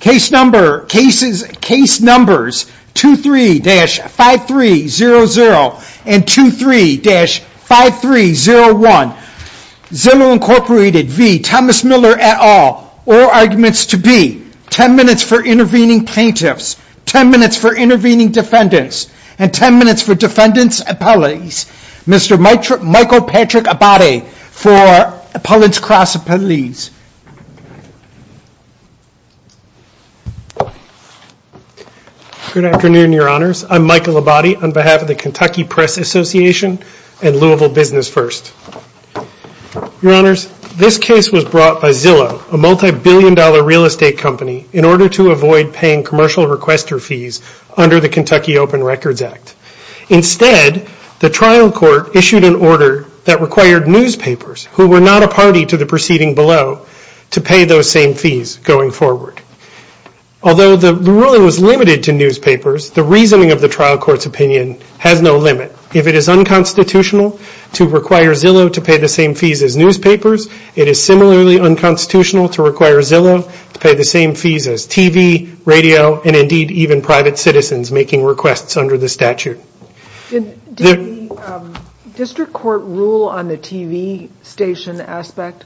Case number cases case numbers two three dash five three zero zero and two three dash five three zero one Zillow Incorporated V Thomas Miller at all or arguments to be ten minutes for intervening plaintiffs Ten minutes for intervening defendants and ten minutes for defendants appellees Mr. Mike trip Michael Patrick a body for appellants cross appellees Good Afternoon your honors, I'm Michael Abadi on behalf of the Kentucky Press Association and Louisville business first Your honors this case was brought by Zillow a multi-billion dollar real estate company in order to avoid paying commercial requester fees under the Kentucky Open Records Act Instead the trial court issued an order that required newspapers who were not a party to the proceeding below To pay those same fees going forward Although the ruling was limited to newspapers the reasoning of the trial court's opinion has no limit if it is unconstitutional To require Zillow to pay the same fees as newspapers It is similarly unconstitutional to require Zillow to pay the same fees as TV radio and indeed even private citizens making requests under the statute District court rule on the TV station aspect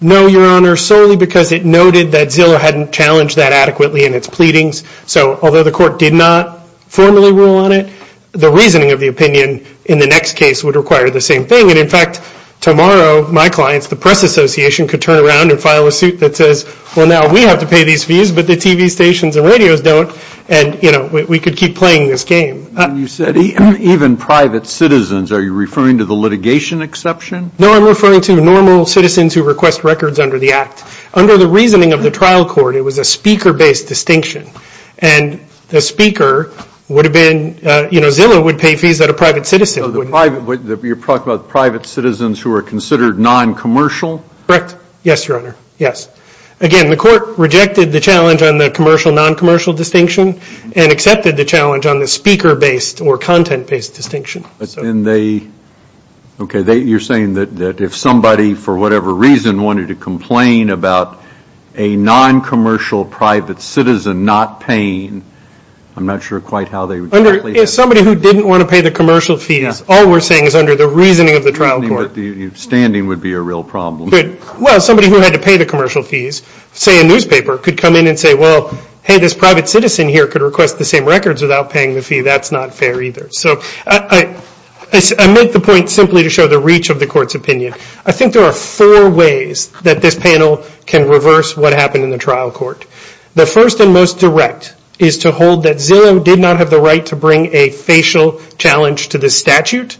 No, your honor solely because it noted that Zillow hadn't challenged that adequately in its pleadings. So although the court did not Formally rule on it the reasoning of the opinion in the next case would require the same thing And in fact tomorrow my clients the Press Association could turn around and file a suit that says well now we have to pay these fees But the TV stations and radios don't and you know, we could keep playing this game You said even private citizens. Are you referring to the litigation exception? No, I'm referring to normal citizens who request records under the act under the reasoning of the trial court it was a speaker based distinction and The speaker would have been you know, Zillow would pay fees that a private citizen would You're talking about private citizens who are considered non-commercial correct? Yes, your honor Yes Again, the court rejected the challenge on the commercial non-commercial distinction and accepted the challenge on the speaker based or content based distinction but then they Okay, they you're saying that that if somebody for whatever reason wanted to complain about a non-commercial private citizen not paying I'm not sure quite how they would under is somebody who didn't want to pay the commercial fees All we're saying is under the reasoning of the trial court standing would be a real problem Good. Well somebody who had to pay the commercial fees say a newspaper could come in and say well Hey, this private citizen here could request the same records without paying the fee. That's not fair either. So I Make the point simply to show the reach of the court's opinion I think there are four ways that this panel can reverse what happened in the trial court The first and most direct is to hold that Zillow did not have the right to bring a facial challenge to the statute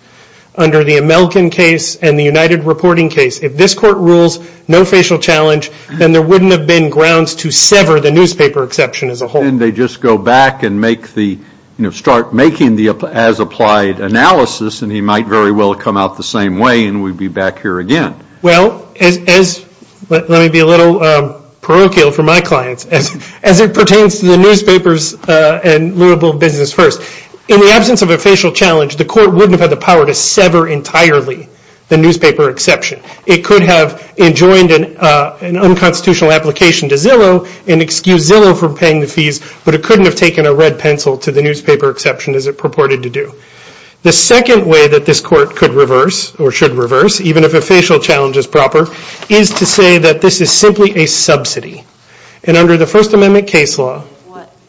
Under the Amelkin case and the United reporting case if this court rules no facial challenge Then there wouldn't have been grounds to sever the newspaper exception as a whole and they just go back and make the you know Making the as applied analysis and he might very well come out the same way and we'd be back here again well as Let me be a little parochial for my clients as as it pertains to the newspapers and Louisville business first in the absence of a facial challenge the court wouldn't have had the power to sever entirely The newspaper exception it could have enjoined an unconstitutional application to Zillow and excuse Zillow for paying the fees But it couldn't have taken a red pencil to the newspaper exception as it purported to do The second way that this court could reverse or should reverse even if a facial challenge is proper is to say that this is simply a subsidy and under the First Amendment case law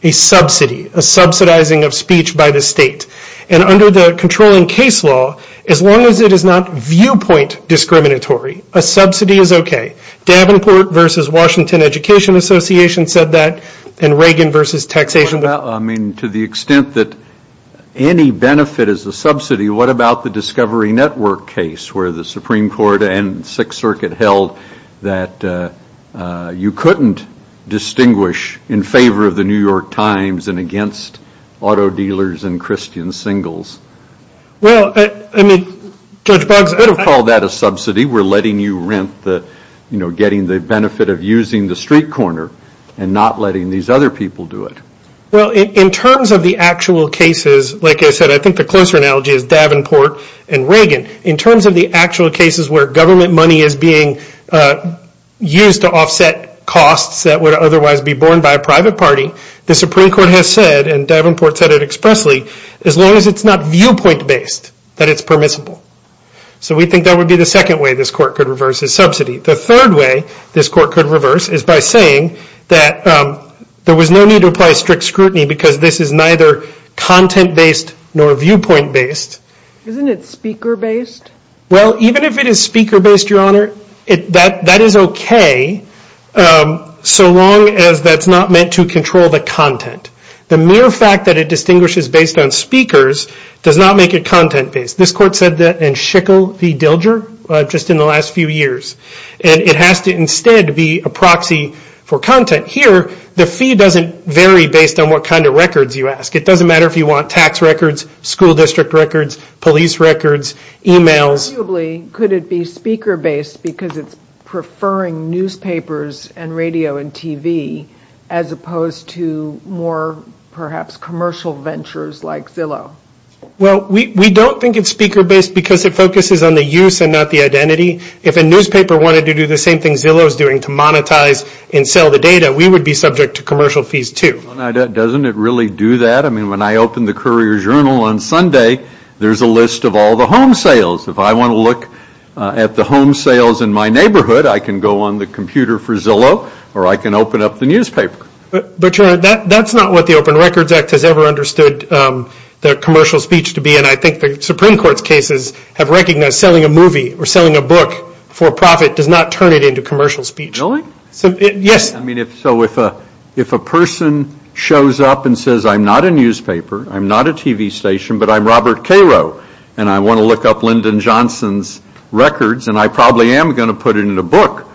a Subsidy a subsidizing of speech by the state and under the controlling case law as long as it is not viewpoint Discriminatory a subsidy is okay Davenport versus Washington Education Association said that and Reagan versus taxation. Well, I mean to the extent that Any benefit is a subsidy. What about the Discovery Network case where the Supreme Court and Sixth Circuit held that? You couldn't Distinguish in favor of the New York Times and against auto dealers and Christian singles Well, I mean judge bugs. I don't call that a subsidy We're letting you rent that, you know getting the benefit of using the street corner and not letting these other people do it Well in terms of the actual cases Like I said, I think the closer analogy is Davenport and Reagan in terms of the actual cases where government money is being Used to offset costs that would otherwise be borne by a private party The Supreme Court has said and Davenport said it expressly as long as it's not viewpoint based that it's permissible So we think that would be the second way this court could reverse his subsidy the third way this court could reverse is by saying that There was no need to apply strict scrutiny because this is neither Content based nor viewpoint based isn't it speaker based? Well, even if it is speaker based your honor it that that is okay So long as that's not meant to control the content the mere fact that it distinguishes based on speakers Does not make it content-based this court said that and shickle the dilger just in the last few years And it has to instead be a proxy for content here The fee doesn't vary based on what kind of records you ask It doesn't matter if you want tax records school district records police records emails Probably could it be speaker based because it's preferring Newspapers and radio and TV as opposed to more perhaps commercial ventures like Zillow Well, we don't think it's speaker based because it focuses on the use and not the identity if a newspaper wanted to do the same Thing Zillow is doing to monetize and sell the data. We would be subject to commercial fees, too Doesn't it really do that? I mean when I opened the Courier-Journal on Sunday There's a list of all the home sales if I want to look at the home sales in my neighborhood I can go on the computer for Zillow or I can open up the newspaper But that that's not what the Open Records Act has ever understood The commercial speech to be and I think the Supreme Court's cases have recognized selling a movie or selling a book For profit does not turn it into commercial speech. Really? So yes, I mean if so with a if a person shows up and says I'm not a newspaper I'm not a TV station, but I'm Robert Cairo and I want to look up Lyndon Johnson's Records and I probably am gonna put it in a book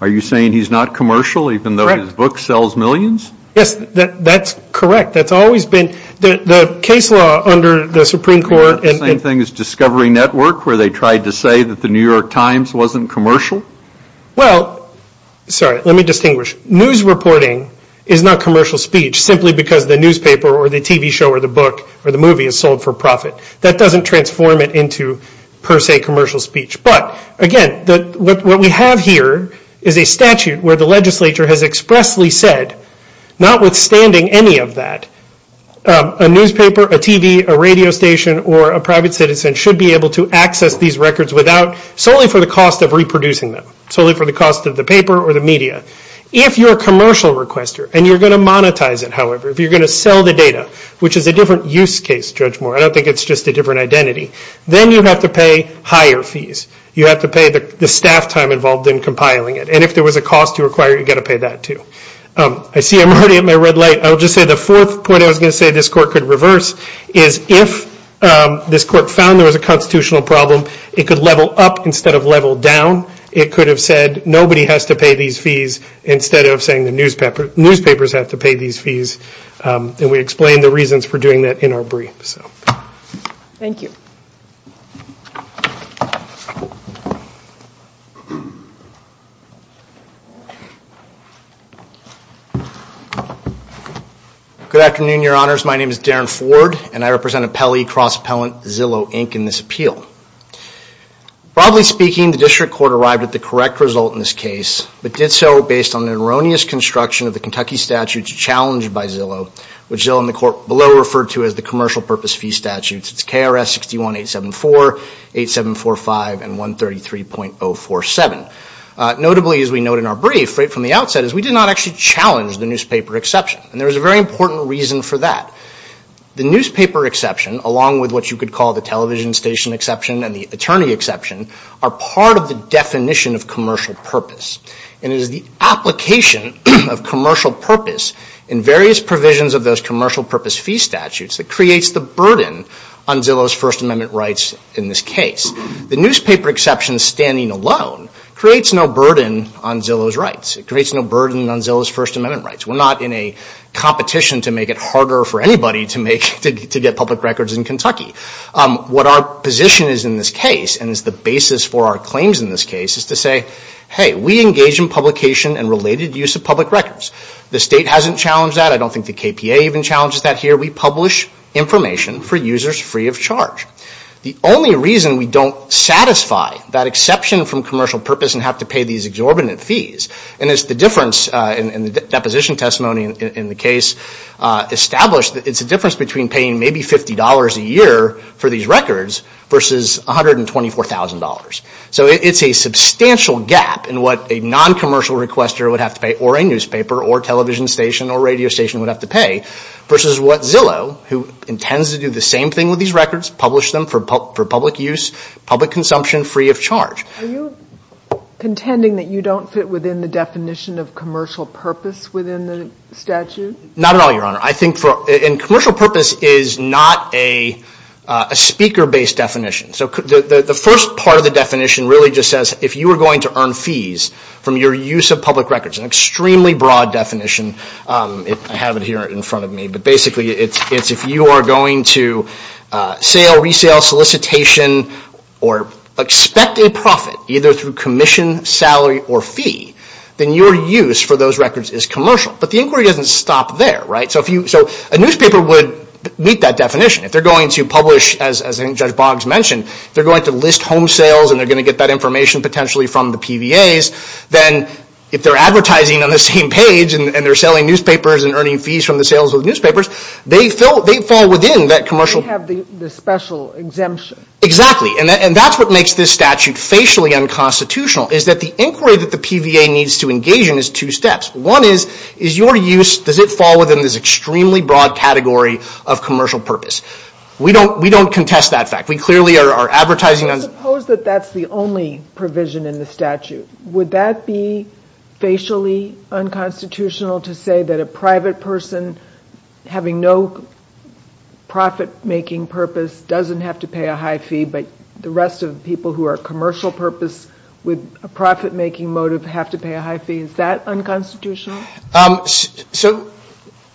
Are you saying he's not commercial even though his book sells millions? Yes, that's correct That's always been the case law under the Supreme Court It's the same thing as Discovery Network where they tried to say that the New York Times wasn't commercial. Well Sorry, let me distinguish news reporting is not commercial speech Simply because the newspaper or the TV show or the book or the movie is sold for profit that doesn't transform it into Per se commercial speech, but again that what we have here is a statute where the legislature has expressly said Not withstanding any of that a newspaper a TV a radio station or a private citizen should be able to access these records without Solely for the cost of reproducing them solely for the cost of the paper or the media If you're a commercial requester and you're gonna monetize it However, if you're gonna sell the data, which is a different use case judge more I don't think it's just a different identity Then you have to pay higher fees You have to pay the staff time involved in compiling it and if there was a cost to acquire you got to pay that, too I see I'm already at my red light. I'll just say the fourth point I was gonna say this court could reverse is if This court found there was a constitutional problem. It could level up instead of level down It could have said nobody has to pay these fees instead of saying the newspaper newspapers have to pay these fees And we explained the reasons for doing that in our brief, so thank you Good afternoon, your honors. My name is Darren Ford and I represent a Pele cross-appellant Zillow Inc in this appeal Probably speaking the district court arrived at the correct result in this case But did so based on an erroneous construction of the Kentucky statutes challenged by Zillow Which Zillow and the court below referred to as the commercial purpose fee statutes. It's KRS 61-874 8745 and 133.047 Notably as we note in our brief right from the outset is we did not actually Challenge the newspaper exception and there was a very important reason for that the newspaper exception along with what you could call the television station exception and the attorney exception are part of the Definition of commercial purpose and it is the application of commercial purpose in Various provisions of those commercial purpose fee statutes that creates the burden on Zillow's First Amendment rights in this case The newspaper exception standing alone creates no burden on Zillow's rights. It creates no burden on Zillow's First Amendment rights We're not in a competition to make it harder for anybody to make to get public records in Kentucky What our position is in this case and is the basis for our claims in this case is to say hey We engage in publication and related use of public records. The state hasn't challenged that I don't think the KPA even challenges that here We publish information for users free of charge The only reason we don't satisfy that exception from commercial purpose and have to pay these exorbitant fees And it's the difference in the deposition testimony in the case Established that it's a difference between paying maybe $50 a year for these records versus $124,000 so it's a substantial gap in what a Non-commercial requester would have to pay or a newspaper or television station or radio station would have to pay Versus what Zillow who intends to do the same thing with these records publish them for public use public consumption free of charge Contending that you don't fit within the definition of commercial purpose within the statute not at all your honor, I think for in commercial purpose is not a Speaker based definition so the first part of the definition really just says if you are going to earn fees From your use of public records an extremely broad definition I have it here in front of me, but basically it's it's if you are going to sale resale solicitation or Expect a profit either through commission salary or fee then your use for those records is commercial But the inquiry doesn't stop there right so if you so a newspaper would Meet that definition if they're going to publish as a judge Boggs mentioned They're going to list home sales And they're going to get that information potentially from the PVA's Then if they're advertising on the same page and they're selling newspapers and earning fees from the sales of newspapers They fill they fall within that commercial Exactly and that's what makes this statute facially unconstitutional Is that the inquiry that the PVA needs to engage in is two steps one is is your use does it fall within this extremely broad category of commercial purpose We don't we don't contest that fact we clearly are advertising on suppose that that's the only provision in the statute would that be facially unconstitutional to say that a private person having no Profit-making purpose doesn't have to pay a high fee But the rest of the people who are commercial purpose with a profit-making motive have to pay a high fee is that unconstitutional? so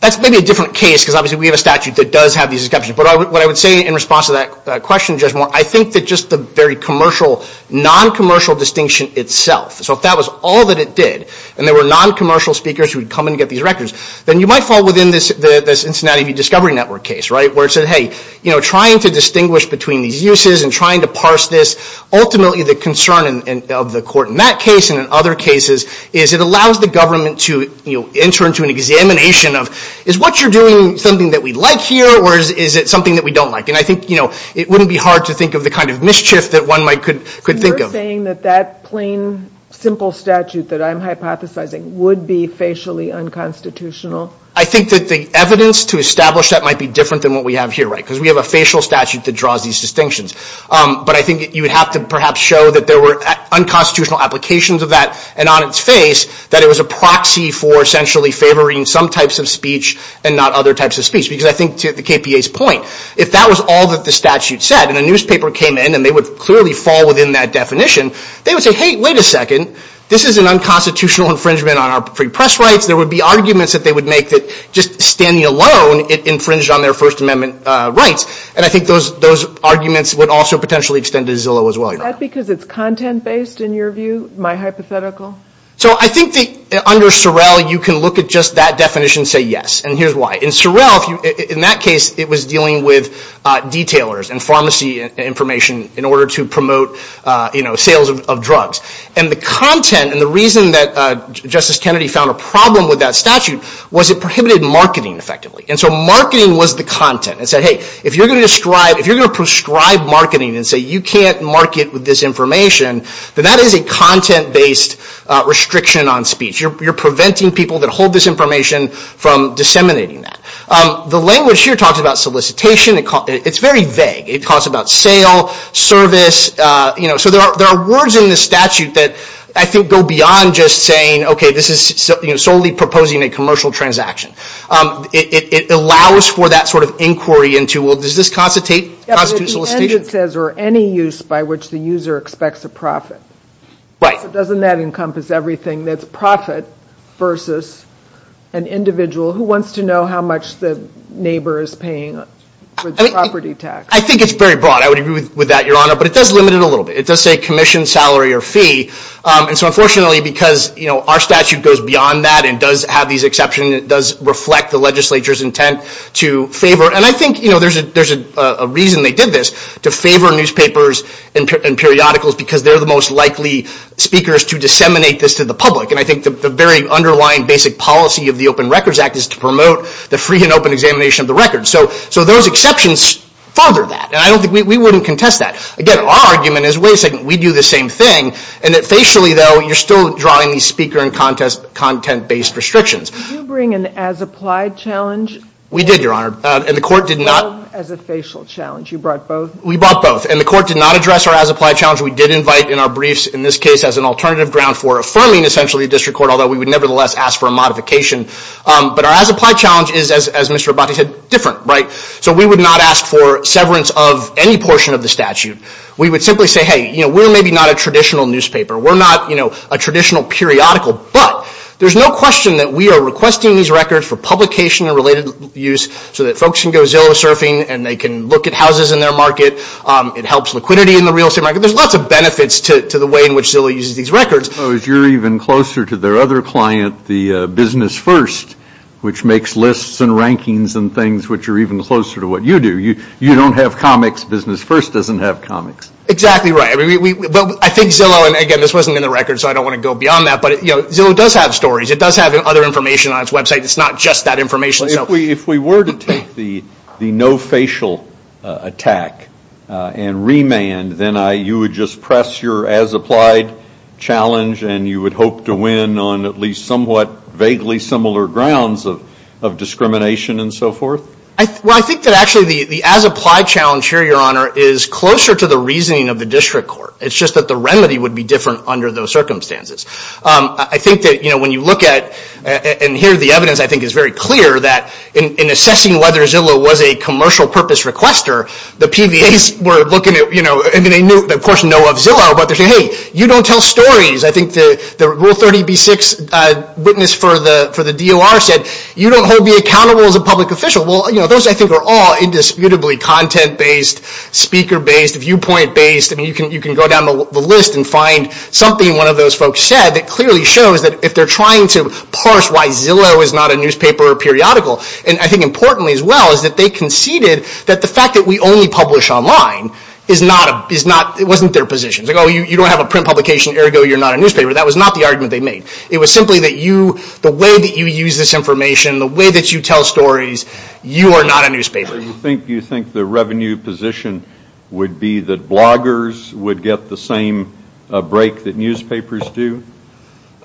That's maybe a different case because obviously we have a statute that does have these exceptions But what I would say in response to that question just more. I think that just the very commercial non-commercial distinction itself So if that was all that it did and there were non-commercial speakers who would come and get these records Then you might fall within this the Cincinnati Discovery Network case right where it said hey You know trying to distinguish between these uses and trying to parse this ultimately the concern of the court in that case and in other cases is it allows the government to you know enter into an Examination of is what you're doing something that we like here Or is it something that we don't like and I think you know it wouldn't be hard to think of the kind of mischief that One might could could think of saying that that plain Simple statute that I'm hypothesizing would be facially unconstitutional I think that the evidence to establish that might be different than what we have here right because we have a facial statute that draws these distinctions But I think you would have to perhaps show that there were unconstitutional applications of that and on its face that it was a proxy for essentially favoring some types of speech and not other types of speech because I think to the KPA's point if that was all that the Statute said and a newspaper came in and they would clearly fall within that definition They would say hey wait a second. This is an unconstitutional infringement on our free press rights There would be arguments that they would make that just standing alone it infringed on their First Amendment rights And I think those those arguments would also potentially extend to Zillow as well That's because it's content based in your view my hypothetical So I think the under Sorrell you can look at just that definition say yes And here's why in Sorrell if you in that case it was dealing with Detailers and pharmacy information in order to promote You know sales of drugs and the content and the reason that Justice Kennedy found a problem with that statute was it prohibited marketing effectively and so marketing was the content and said hey if you're gonna Describe if you're gonna prescribe marketing and say you can't market with this information Then that is a content-based Restriction on speech you're preventing people that hold this information from disseminating that the language here talks about solicitation It's very vague it talks about sale Service you know so there are there are words in the statute that I think go beyond just saying okay This is something you're solely proposing a commercial transaction It allows for that sort of inquiry into well does this constitute As or any use by which the user expects a profit right doesn't that encompass everything that's profit versus an Individual who wants to know how much the neighbor is paying Property tax I think it's very broad I would agree with that your honor, but it does limit it a little bit It does say commission salary or fee And so unfortunately because you know our statute goes beyond that and does have these exception it does reflect the legislature's intent to favor and I think you know there's a there's a reason they did this to favor newspapers and Periodicals because they're the most likely Speakers to disseminate this to the public and I think the very underlying basic policy of the Open Records Act is to promote the free And open examination of the record so so those exceptions Father that and I don't think we wouldn't contest that again our argument is wait a second We do the same thing and it facially though you're still drawing these speaker and contest content based restrictions You bring an as applied challenge We did your honor and the court did not as a facial challenge you brought both we bought both and the court did not address Our as applied challenge we did invite in our briefs in this case as an alternative ground for affirming essentially district court although We would nevertheless ask for a modification But our as applied challenge is as Mr.. Abati said different, right? So we would not ask for severance of any portion of the statute. We would simply say hey You know we're maybe not a traditional newspaper. We're not you know a traditional periodical But there's no question that we are requesting these records for publication and related Use so that folks can go zillow surfing and they can look at houses in their market It helps liquidity in the real estate market There's lots of benefits to the way in which Zillow uses these records as you're even closer to their other client the business first Which makes lists and rankings and things which are even closer to what you do you you don't have comics business first doesn't have comics Exactly right every week, but I think Zillow and again this wasn't in the record So I don't want to go beyond that, but you know Zillow does have stories. It does have other information on its website It's not just that information if we if we were to take the the no facial Attack and remand, then I you would just press your as applied Challenge, and you would hope to win on at least somewhat vaguely similar grounds of of discrimination and so forth I well, I think that actually the the as applied challenge here your honor is closer to the reasoning of the district court It's just that the remedy would be different under those circumstances I think that you know when you look at and here the evidence I think is very clear that in assessing whether Zillow was a commercial purpose requester the PVA's were looking at you know And then they knew of course know of Zillow, but they say hey you don't tell stories. I think the rule 30b6 Witness for the for the DOR said you don't hold me accountable as a public official well You know those I think are all indisputably content based Speaker based viewpoint based and you can you can go down the list and find Something one of those folks said that clearly shows that if they're trying to parse Why Zillow is not a newspaper or periodical and I think importantly as well is that they conceded that the fact that we only publish? Online is not a is not it wasn't their positions ago. You don't have a print publication ergo You're not a newspaper that was not the argument They made it was simply that you the way that you use this information the way that you tell stories You are not a newspaper. You think you think the revenue position would be that bloggers would get the same break that newspapers do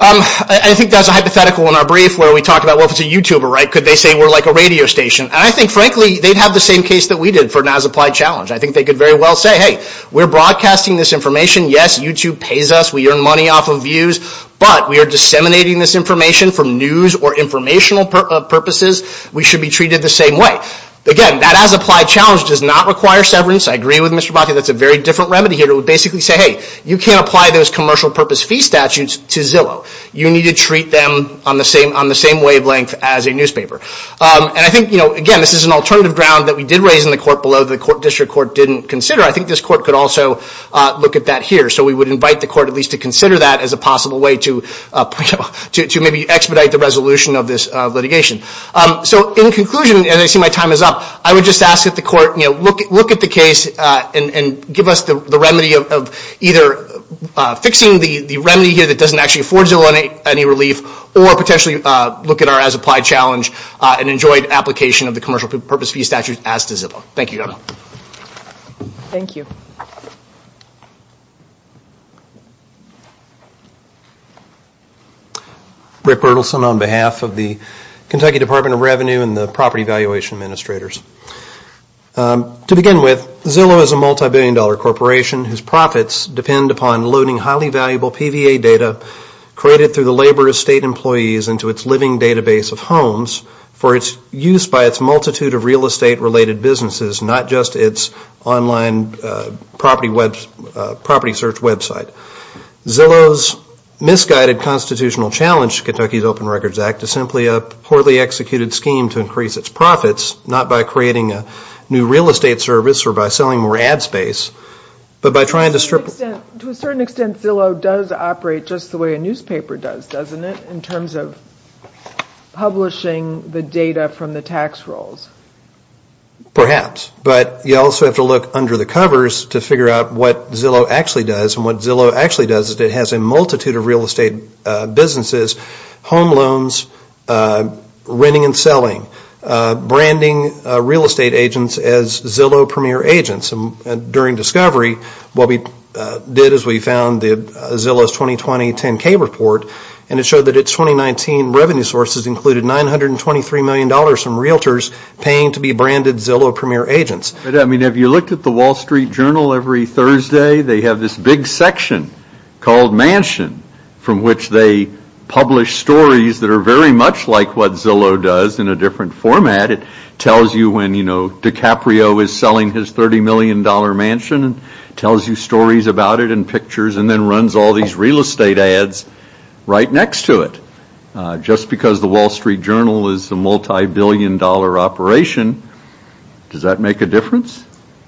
I think that's a hypothetical in our brief where we talked about what was a youtuber, right? Could they say we're like a radio station, and I think frankly they'd have the same case that we did for an as applied challenge I think they could very well say hey, we're broadcasting this information. Yes, YouTube pays us We earn money off of views, but we are disseminating this information from news or informational purposes We should be treated the same way again that as applied challenge does not require severance. I agree with mr. That's a very different remedy here It would basically say hey you can't apply those commercial purpose fee statutes to Zillow You need to treat them on the same on the same wavelength as a newspaper And I think you know again This is an alternative ground that we did raise in the court below the court district court didn't consider I think this court could also Look at that here, so we would invite the court at least to consider that as a possible way to To maybe expedite the resolution of this litigation so in conclusion as I see my time is up I would just ask that the court. You know look at look at the case and give us the remedy of either Fixing the the remedy here that doesn't actually afford Zillow any relief or potentially look at our as applied challenge And enjoyed application of the commercial purpose fee statute as to Zillow. Thank you Thank you Rick Berthelsen on behalf of the Kentucky Department of Revenue and the property valuation administrators To begin with Zillow is a multi-billion dollar corporation whose profits depend upon loading highly valuable PVA data Created through the labor of state employees into its living database of homes For its use by its multitude of real estate related businesses, not just its online property web property search website Zillow's Misguided constitutional challenge Kentucky's Open Records Act is simply a poorly executed scheme to increase its profits not by creating a new real estate service or by selling more ad space but by trying to strip to a certain extent Zillow does operate just the way a newspaper does doesn't it in terms of Publishing the data from the tax rolls Perhaps, but you also have to look under the covers to figure out what Zillow actually does and what Zillow actually does is it has multitude of real estate businesses home loans renting and selling branding real estate agents as Zillow premier agents and during discovery what we Did is we found the Zillow's 2020 10k report and it showed that its 2019 revenue sources included 923 million dollars from Realtors paying to be branded Zillow premier agents I mean have you looked at the Wall Street Journal every Thursday? They have this big section called mansion from which they Publish stories that are very much like what Zillow does in a different format it tells you when you know DiCaprio is selling his 30 million dollar mansion and tells you stories about it and pictures and then runs all these real estate ads Right next to it Just because the Wall Street Journal is a multi-billion dollar operation Does that make a difference?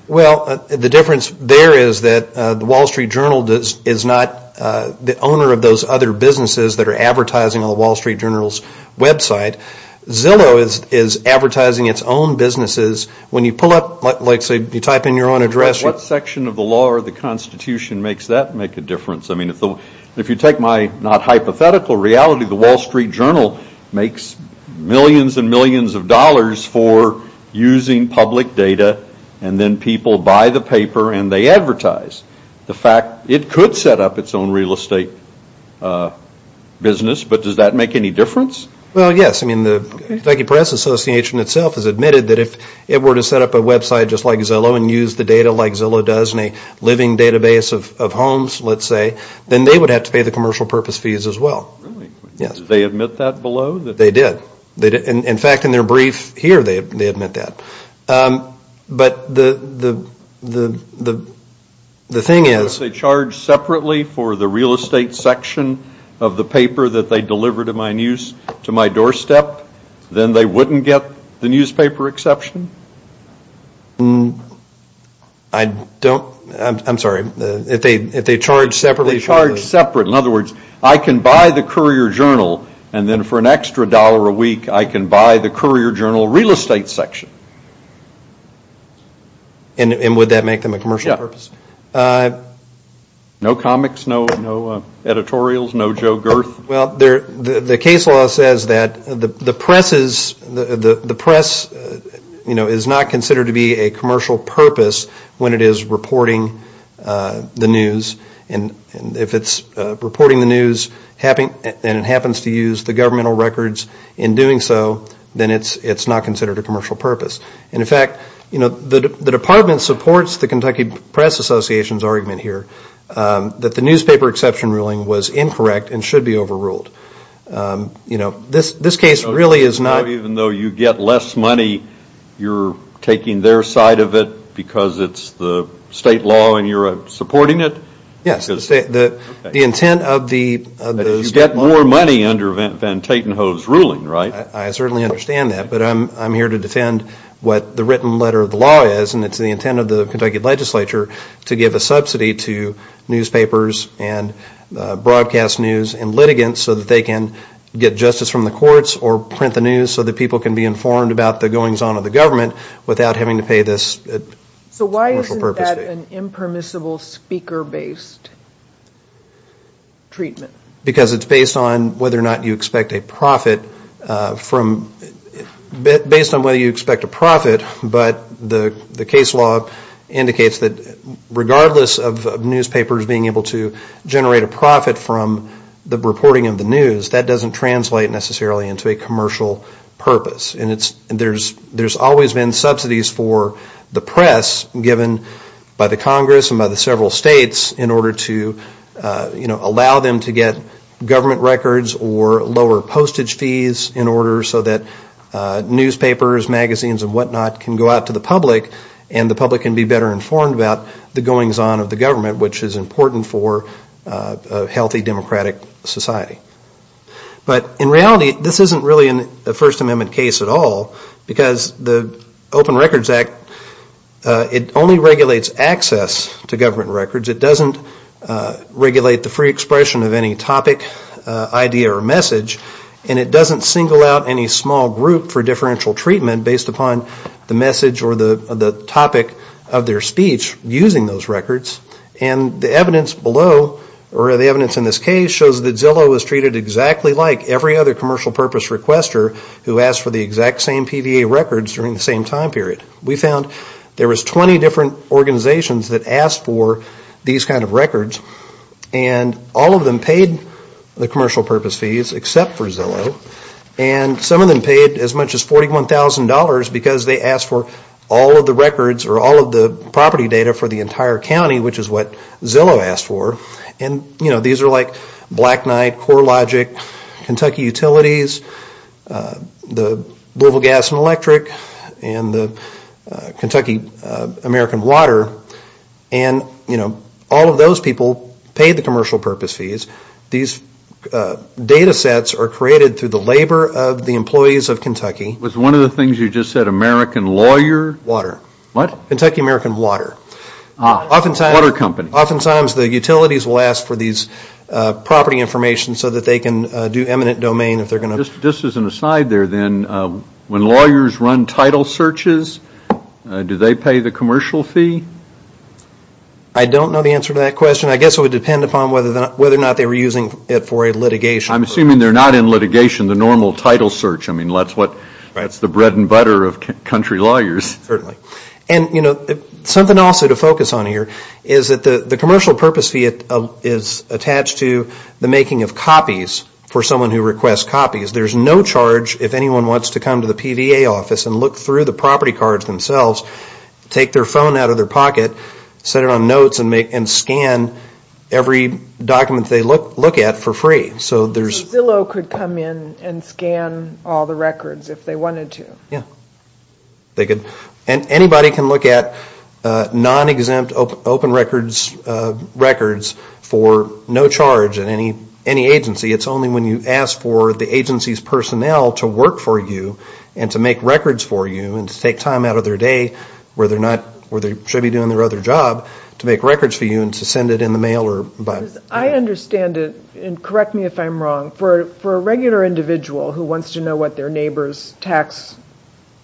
Well the difference there is that the Wall Street Journal does is not The owner of those other businesses that are advertising on the Wall Street Journal's website Zillow is is advertising its own businesses when you pull up like say you type in your own address what section of the law or the Constitution makes that make a difference I mean if the if you take my not hypothetical reality the Wall Street Journal makes millions and millions of dollars for Using public data, and then people buy the paper, and they advertise the fact it could set up its own real estate Business, but does that make any difference well? I mean the Peggy Press Association itself has admitted that if it were to set up a website just like Zillow and use the data like Zillow does in a Living database of homes, let's say then they would have to pay the commercial purpose fees as well Yes, they admit that below that they did they did in fact in their brief here. They admit that but the the the the The thing is they charge separately for the real estate section of the paper that they deliver to my news to my doorstep Then they wouldn't get the newspaper exception mmm, I Don't I'm sorry if they if they charge separately charge separate in other words I can buy the Courier-Journal and then for an extra dollar a week. I can buy the Courier-Journal real estate section and Would that make them a commercial purpose? No comics no no Editorials no Joe girth well there the case law says that the the presses the the the press You know is not considered to be a commercial purpose when it is reporting the news and and if it's Reporting the news happening and it happens to use the governmental records in doing so then it's it's not considered a commercial purpose And in fact, you know the the department supports the Kentucky Press Association's argument here That the newspaper exception ruling was incorrect and should be overruled You know this this case really is not even though you get less money You're taking their side of it because it's the state law, and you're supporting it Yes, the state the the intent of the you get more money under event van Tatenhove's ruling right I certainly understand that But I'm I'm here to defend what the written letter of the law is and it's the intent of the Kentucky legislature to give a subsidy to newspapers and Broadcast news and litigants so that they can Get justice from the courts or print the news so that people can be informed about the goings-on of the government Without having to pay this So why isn't that an impermissible speaker based? Treatment because it's based on whether or not you expect a profit from Based on whether you expect a profit, but the the case law indicates that Regardless of newspapers being able to generate a profit from the reporting of the news that doesn't translate necessarily into a commercial Purpose, and it's there's there's always been subsidies for the press given by the Congress and by the several states in order to You know allow them to get government records or lower postage fees in order so that Newspapers magazines and whatnot can go out to the public and the public can be better informed about the goings-on of the government which is important for a healthy democratic society But in reality, this isn't really in the First Amendment case at all because the Open Records Act It only regulates access to government records. It doesn't Regulate the free expression of any topic idea or message and it doesn't single out any small group for differential treatment based upon the message or the topic of their speech using those records and The evidence below or the evidence in this case shows that Zillow was treated exactly like every other commercial purpose Requester who asked for the exact same PVA records during the same time period we found there was 20 different Organizations that asked for these kind of records and all of them paid the commercial purpose fees except for Zillow and some of them paid as much as $41,000 because they asked for all of the records or all of the property data for the entire County Which is what Zillow asked for and you know, these are like Black Knight, CoreLogic, Kentucky Utilities the Louisville Gas and Electric and the Kentucky American Water and you know all of those people paid the commercial purpose fees these Datasets are created through the labor of the employees of Kentucky. Was one of the things you just said American lawyer? Water. What? Kentucky American Water. Water Company. Oftentimes the utilities will ask for these Property information so that they can do eminent domain if they're going to. Just as an aside there then When lawyers run title searches, do they pay the commercial fee? I don't know the answer to that question. I guess it would depend upon whether or not they were using it for a litigation. I'm assuming they're not in litigation the normal title search. I mean, that's what that's the bread and butter of country lawyers. Certainly. And you know something also to focus on here is that the the commercial purpose fee It is attached to the making of copies for someone who requests copies There's no charge if anyone wants to come to the PVA office and look through the property cards themselves Take their phone out of their pocket set it on notes and make and scan Every document they look look at for free. So there's Zillow could come in and scan all the records if they wanted to. Yeah They could and anybody can look at non-exempt open records Records for no charge in any any agency It's only when you ask for the agency's personnel to work for you and to make records for you and to take time out of Their day where they're not where they should be doing their other job To make records for you and to send it in the mail or but I understand it and correct me if I'm wrong for For a regular individual who wants to know what their neighbor's tax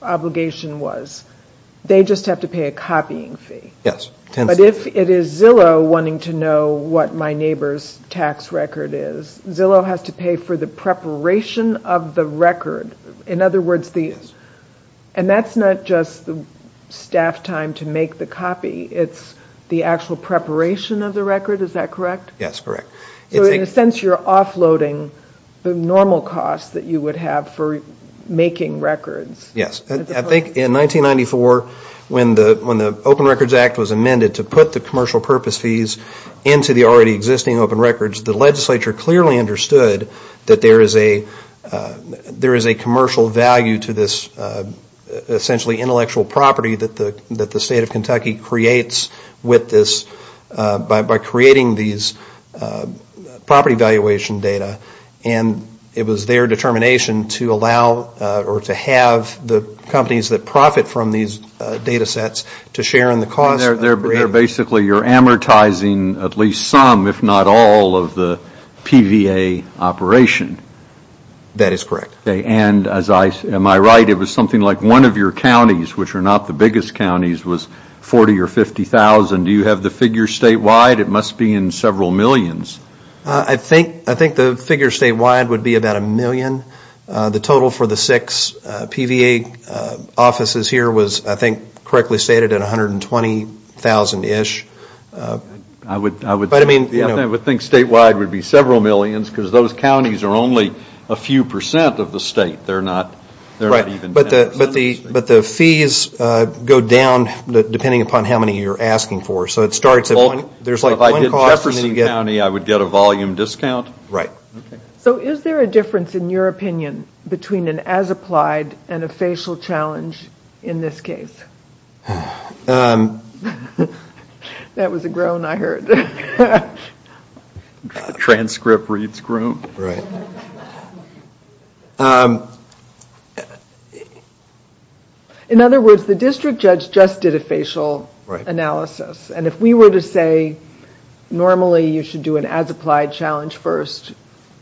Obligation was they just have to pay a copying fee Yes, but if it is Zillow wanting to know what my neighbor's tax record is Zillow has to pay for the Preparation of the record in other words these and that's not just the staff time to make the copy It's the actual preparation of the record. Is that correct? Yes, correct So in a sense, you're offloading the normal costs that you would have for making records Yes, I think in 1994 when the when the Open Records Act was amended to put the commercial purpose fees into the already existing open records the legislature clearly understood that there is a There is a commercial value to this Essentially intellectual property that the that the state of Kentucky creates with this by by creating these property valuation data and It was their determination to allow or to have the companies that profit from these Datasets to share in the cause. They're basically you're amortizing at least some if not all of the PVA operation That is correct. Okay, and as I am I right it was something like one of your counties Which are not the biggest counties was 40 or 50,000. Do you have the figure statewide? It must be in several millions I think I think the figure statewide would be about a million the total for the six PVA Offices here was I think correctly stated at a hundred and twenty thousand ish I would I would but I mean Yeah, I would think statewide would be several millions because those counties are only a few percent of the state They're not they're right, but the but the but the fees go down Depending upon how many you're asking for so it starts at one Jefferson County I would get a volume discount right so is there a difference in your opinion Between an as-applied and a facial challenge in this case That was a groan I heard Transcript reads groom, right In other words the district judge just did a facial right analysis, and if we were to say Normally you should do an as-applied challenge first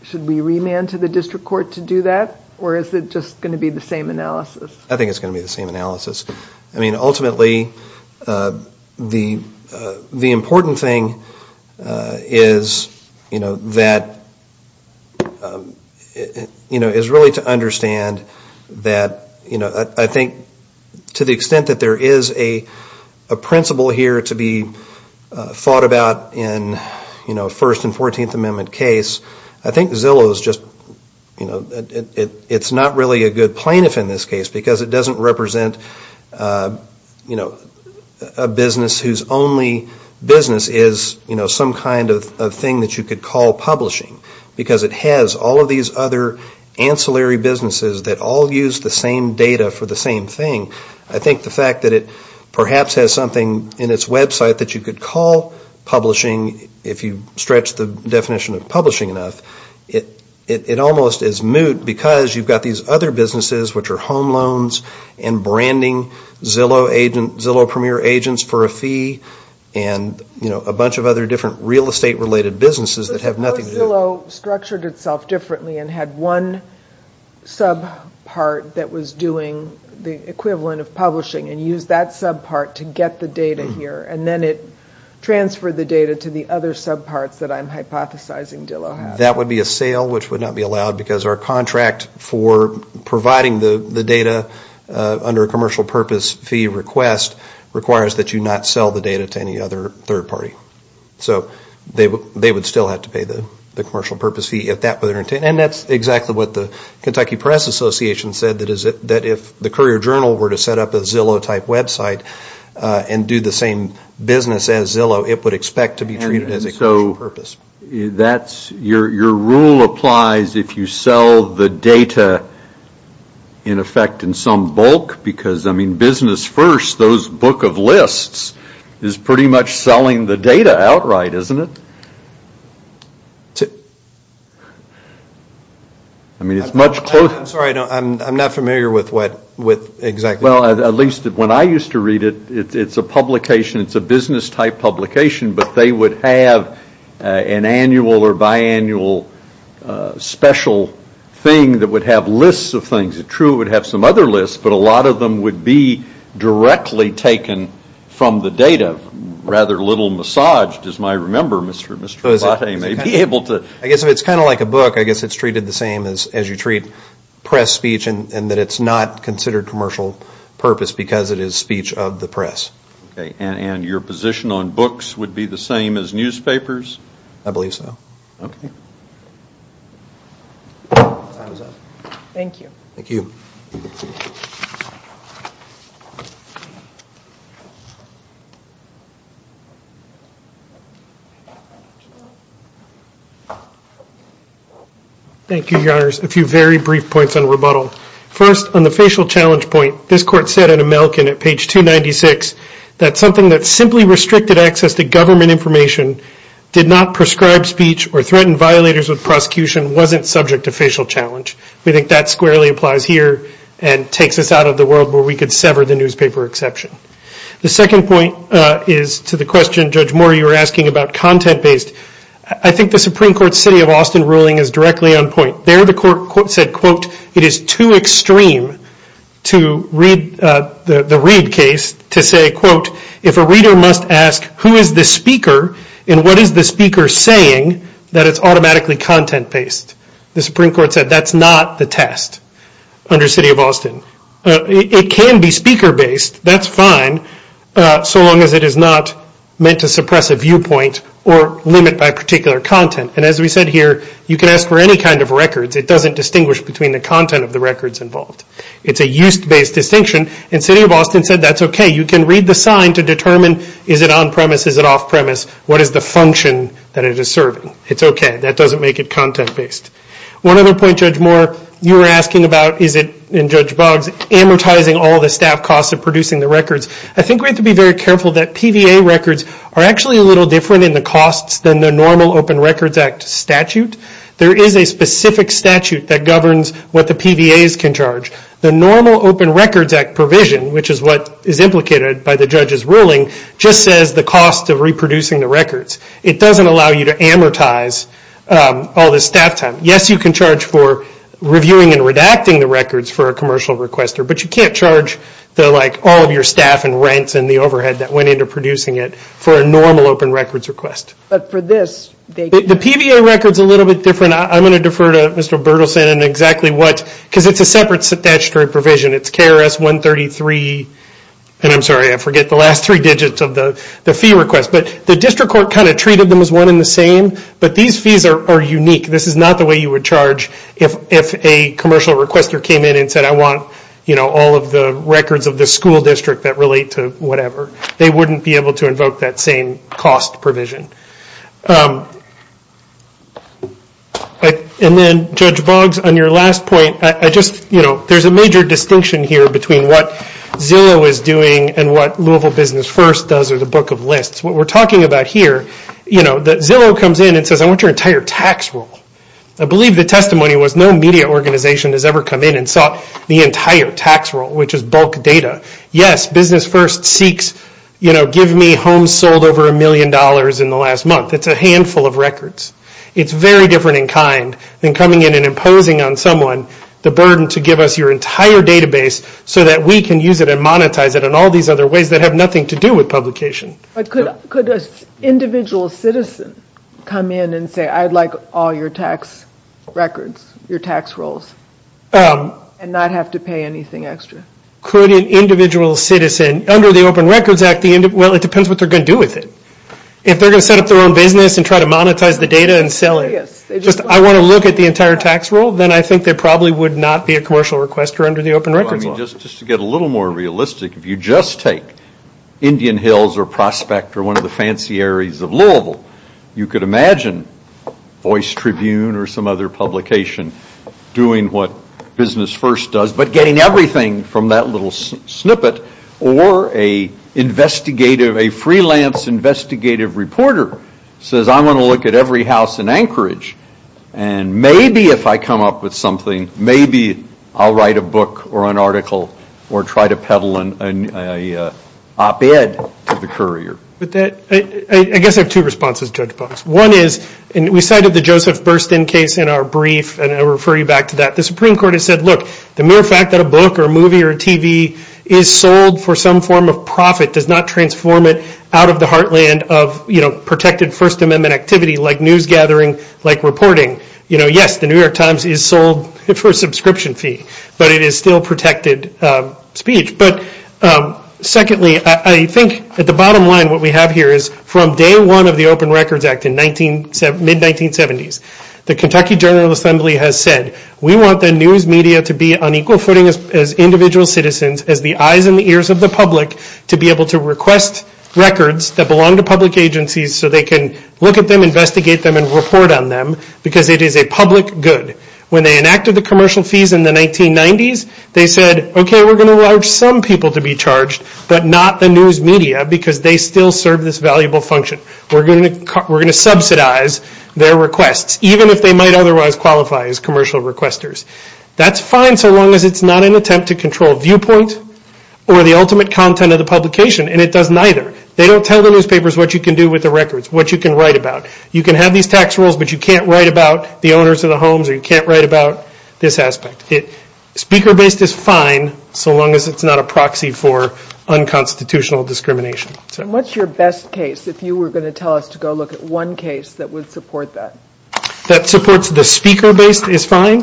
Should we remand to the district court to do that or is it just going to be the same analysis? I think it's going to be the same analysis. I mean ultimately The the important thing is you know that? You know is really to understand that you know I think to the extent that there is a principle here to be Thought about in you know first and 14th amendment case. I think Zillow is just you know It's not really a good plaintiff in this case because it doesn't represent you know a Business whose only business is you know some kind of thing that you could call publishing because it has all of these other Ancillary businesses that all use the same data for the same thing I think the fact that it perhaps has something in its website that you could call Publishing if you stretch the definition of publishing enough it it almost is moot because you've got these other businesses which are home loans and branding Zillow agent Zillow premier agents for a fee and You know a bunch of other different real estate related businesses that have nothing Zillow structured itself differently and had one Sub part that was doing the equivalent of publishing and use that sub part to get the data here And then it transferred the data to the other sub parts that I'm hypothesizing Dillo that would be a sale which would not be allowed because our contract for providing the the data Under a commercial purpose fee request requires that you not sell the data to any other third party So they would they would still have to pay the the commercial purpose fee if that were their intent And that's exactly what the Kentucky Press Association said that is it that if the Courier-Journal were to set up a Zillow type website And do the same business as Zillow it would expect to be treated as a so purpose That's your your rule applies if you sell the data In effect in some bulk because I mean business first those book of lists Is pretty much selling the data outright isn't it? to I Mean it's much closer. I'm sorry. I'm not familiar with what with exactly well at least when I used to read it It's a publication. It's a business type publication, but they would have an annual or biannual Special thing that would have lists of things it true would have some other lists, but a lot of them would be Directly taken from the data rather little massage does my remember mr. Mr.. I may be able to I guess if it's kind of like a book I guess it's treated the same as as you treat press speech, and and that it's not considered commercial Purpose because it is speech of the press okay, and and your position on books would be the same as newspapers I believe so okay Thank you, thank you Thank You yours a few very brief points on rebuttal first on the facial challenge point this court said in a milk in at page 296 That's something that simply restricted access to government information Did not prescribe speech or threaten violators with prosecution wasn't subject to facial challenge We think that squarely applies here and takes us out of the world where we could sever the newspaper exception The second point is to the question judge more you were asking about content based I think the Supreme Court City of Austin ruling is directly on point there the court said quote it is too extreme To read the read case to say quote if a reader must ask who is the speaker? And what is the speaker saying that it's automatically content based the Supreme Court said that's not the test under City of Austin It can be speaker based. That's fine So long as it is not meant to suppress a viewpoint or limit by particular content and as we said here You can ask for any kind of records. It doesn't distinguish between the content of the records involved It's a used based distinction in City of Austin said that's okay You can read the sign to determine is it on-premise is it off-premise? What is the function that it is serving? It's okay that doesn't make it content-based One other point judge more you were asking about is it in judge Boggs amortizing all the staff costs of producing the records I think we have to be very careful that PVA records are actually a little different in the costs than the normal Open Records Act Statute there is a specific statute that governs what the PVA is can charge the normal Open Records Act provision Which is what is implicated by the judge's ruling just says the cost of reproducing the records. It doesn't allow you to amortize All this staff time. Yes, you can charge for reviewing and redacting the records for a commercial requester But you can't charge They're like all of your staff and rents and the overhead that went into producing it for a normal Open Records request But for this the PVA records a little bit different. I'm gonna defer to mr. Bertelsen and exactly what because it's a separate statutory provision It's KRS 133 And I'm sorry, I forget the last three digits of the the fee request But the district court kind of treated them as one in the same, but these fees are unique This is not the way you would charge if if a commercial requester came in and said I want you know All of the records of the school district that relate to whatever they wouldn't be able to invoke that same cost provision And Then judge Boggs on your last point I just you know There's a major distinction here between what? Zillow is doing and what Louisville business first does are the book of lists what we're talking about here You know that Zillow comes in and says I want your entire tax rule I believe the testimony was no media organization has ever come in and sought the entire tax rule, which is bulk data Yes business first seeks you know give me home sold over a million dollars in the last month It's a handful of records It's very different in kind than coming in and imposing on someone the burden to give us your entire Database so that we can use it and monetize it and all these other ways that have nothing to do with publication I could could a individual citizen come in and say I'd like all your tax records your tax rolls And not have to pay anything extra Could an individual citizen under the Open Records Act the end of well it depends what they're gonna Do with it if they're gonna set up their own business and try to monetize the data and sell it Yes Just I want to look at the entire tax rule then I think there probably would not be a commercial requester under the Open Records Just just to get a little more realistic if you just take Indian Hills or prospect or one of the fancy areas of Louisville you could imagine Voice Tribune or some other publication doing what business first does but getting everything from that little snippet or a investigative a freelance investigative reporter says I'm going to look at every house in Anchorage and maybe if I come up with something maybe I'll write a book or an article or try to peddle an Op-ed to the courier but that I guess I have two responses judge books One is and we cited the Joseph Burstyn case in our brief and I refer you back to that the Supreme Court has said look The mere fact that a book or a movie or a TV is sold for some form of profit does not transform it out of the Heartland of you know protected First Amendment activity like news gathering like reporting, you know Yes, the New York Times is sold it for a subscription fee, but it is still protected Speech but Secondly, I think at the bottom line what we have here is from day one of the Open Records Act in 19 7 mid-1970s the Kentucky General Assembly has said we want the news media to be on equal footing as Individual citizens as the eyes and the ears of the public to be able to request Records that belong to public agencies so they can look at them investigate them and report on them Because it is a public good when they enacted the commercial fees in the 1990s They said okay, we're gonna watch some people to be charged, but not the news media because they still serve this valuable function We're gonna we're gonna subsidize their requests, even if they might otherwise qualify as commercial requesters That's fine. So long as it's not an attempt to control viewpoint or the ultimate content of the publication and it doesn't either They don't tell the newspapers what you can do with the records what you can write about you can have these tax rules But you can't write about the owners of the homes or you can't write about this aspect it Speaker based is fine. So long as it's not a proxy for Unconstitutional discrimination, so what's your best case? If you were going to tell us to go look at one case that would support that that supports the speaker based is fine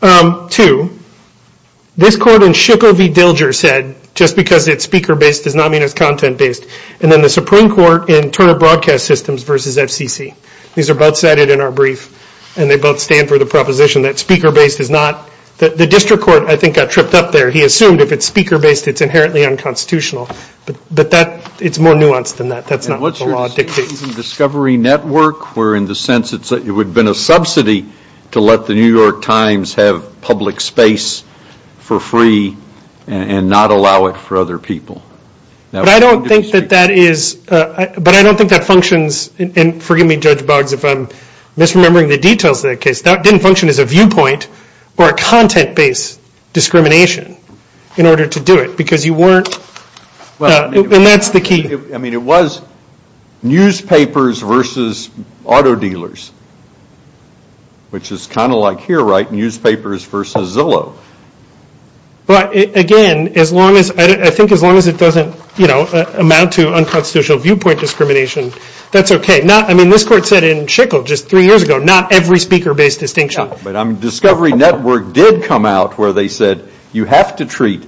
to This court in Shukla v. Dilger said just because it's speaker based does not mean it's content based and then the Supreme Court in Broadcast systems versus FCC These are both cited in our brief and they both stand for the proposition that speaker based is not that the district court I think got tripped up there. He assumed if it's speaker based. It's inherently unconstitutional But but that it's more nuanced than that. That's not what's your law dictates discovery network We're in the sense. It's that it would been a subsidy to let the New York Times have public space for free And not allow it for other people Now I don't think that that is But I don't think that functions and forgive me judge Boggs if I'm Misremembering the details that case that didn't function as a viewpoint or a content based Discrimination in order to do it because you weren't And that's the key. I mean it was Newspapers versus auto dealers Which is kind of like here right newspapers versus Zillow But again as long as I think as long as it doesn't you know amount to unconstitutional viewpoint discrimination That's okay. Not. I mean this court said in Chickle just three years ago Not every speaker based distinction But I'm discovery network did come out where they said you have to treat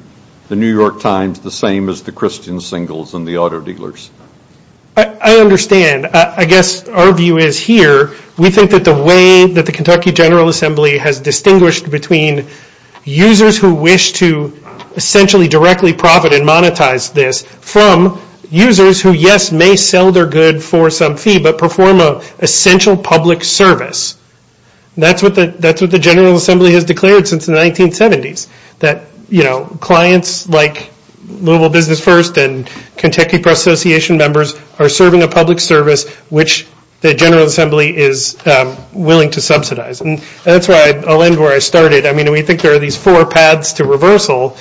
The New York Times the same as the Christian singles and the auto dealers. I Understand I guess our view is here. We think that the way that the Kentucky General Assembly has distinguished between users who wish to Essentially directly profit and monetize this from users who yes may sell their good for some fee But perform a essential public service That's what the that's what the General Assembly has declared since the 1970s that you know clients like Louisville Business First and Kentucky Press Association members are serving a public service which the General Assembly is Willing to subsidize and that's why I'll end where I started I mean we think there are these four paths to reversal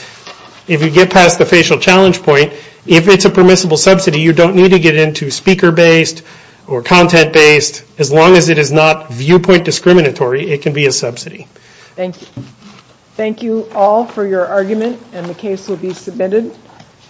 If you get past the facial challenge point if it's a permissible subsidy You don't need to get into speaker based or content based as long as it is not viewpoint discriminatory. It can be a subsidy Thank you all for your argument and the case will be submitted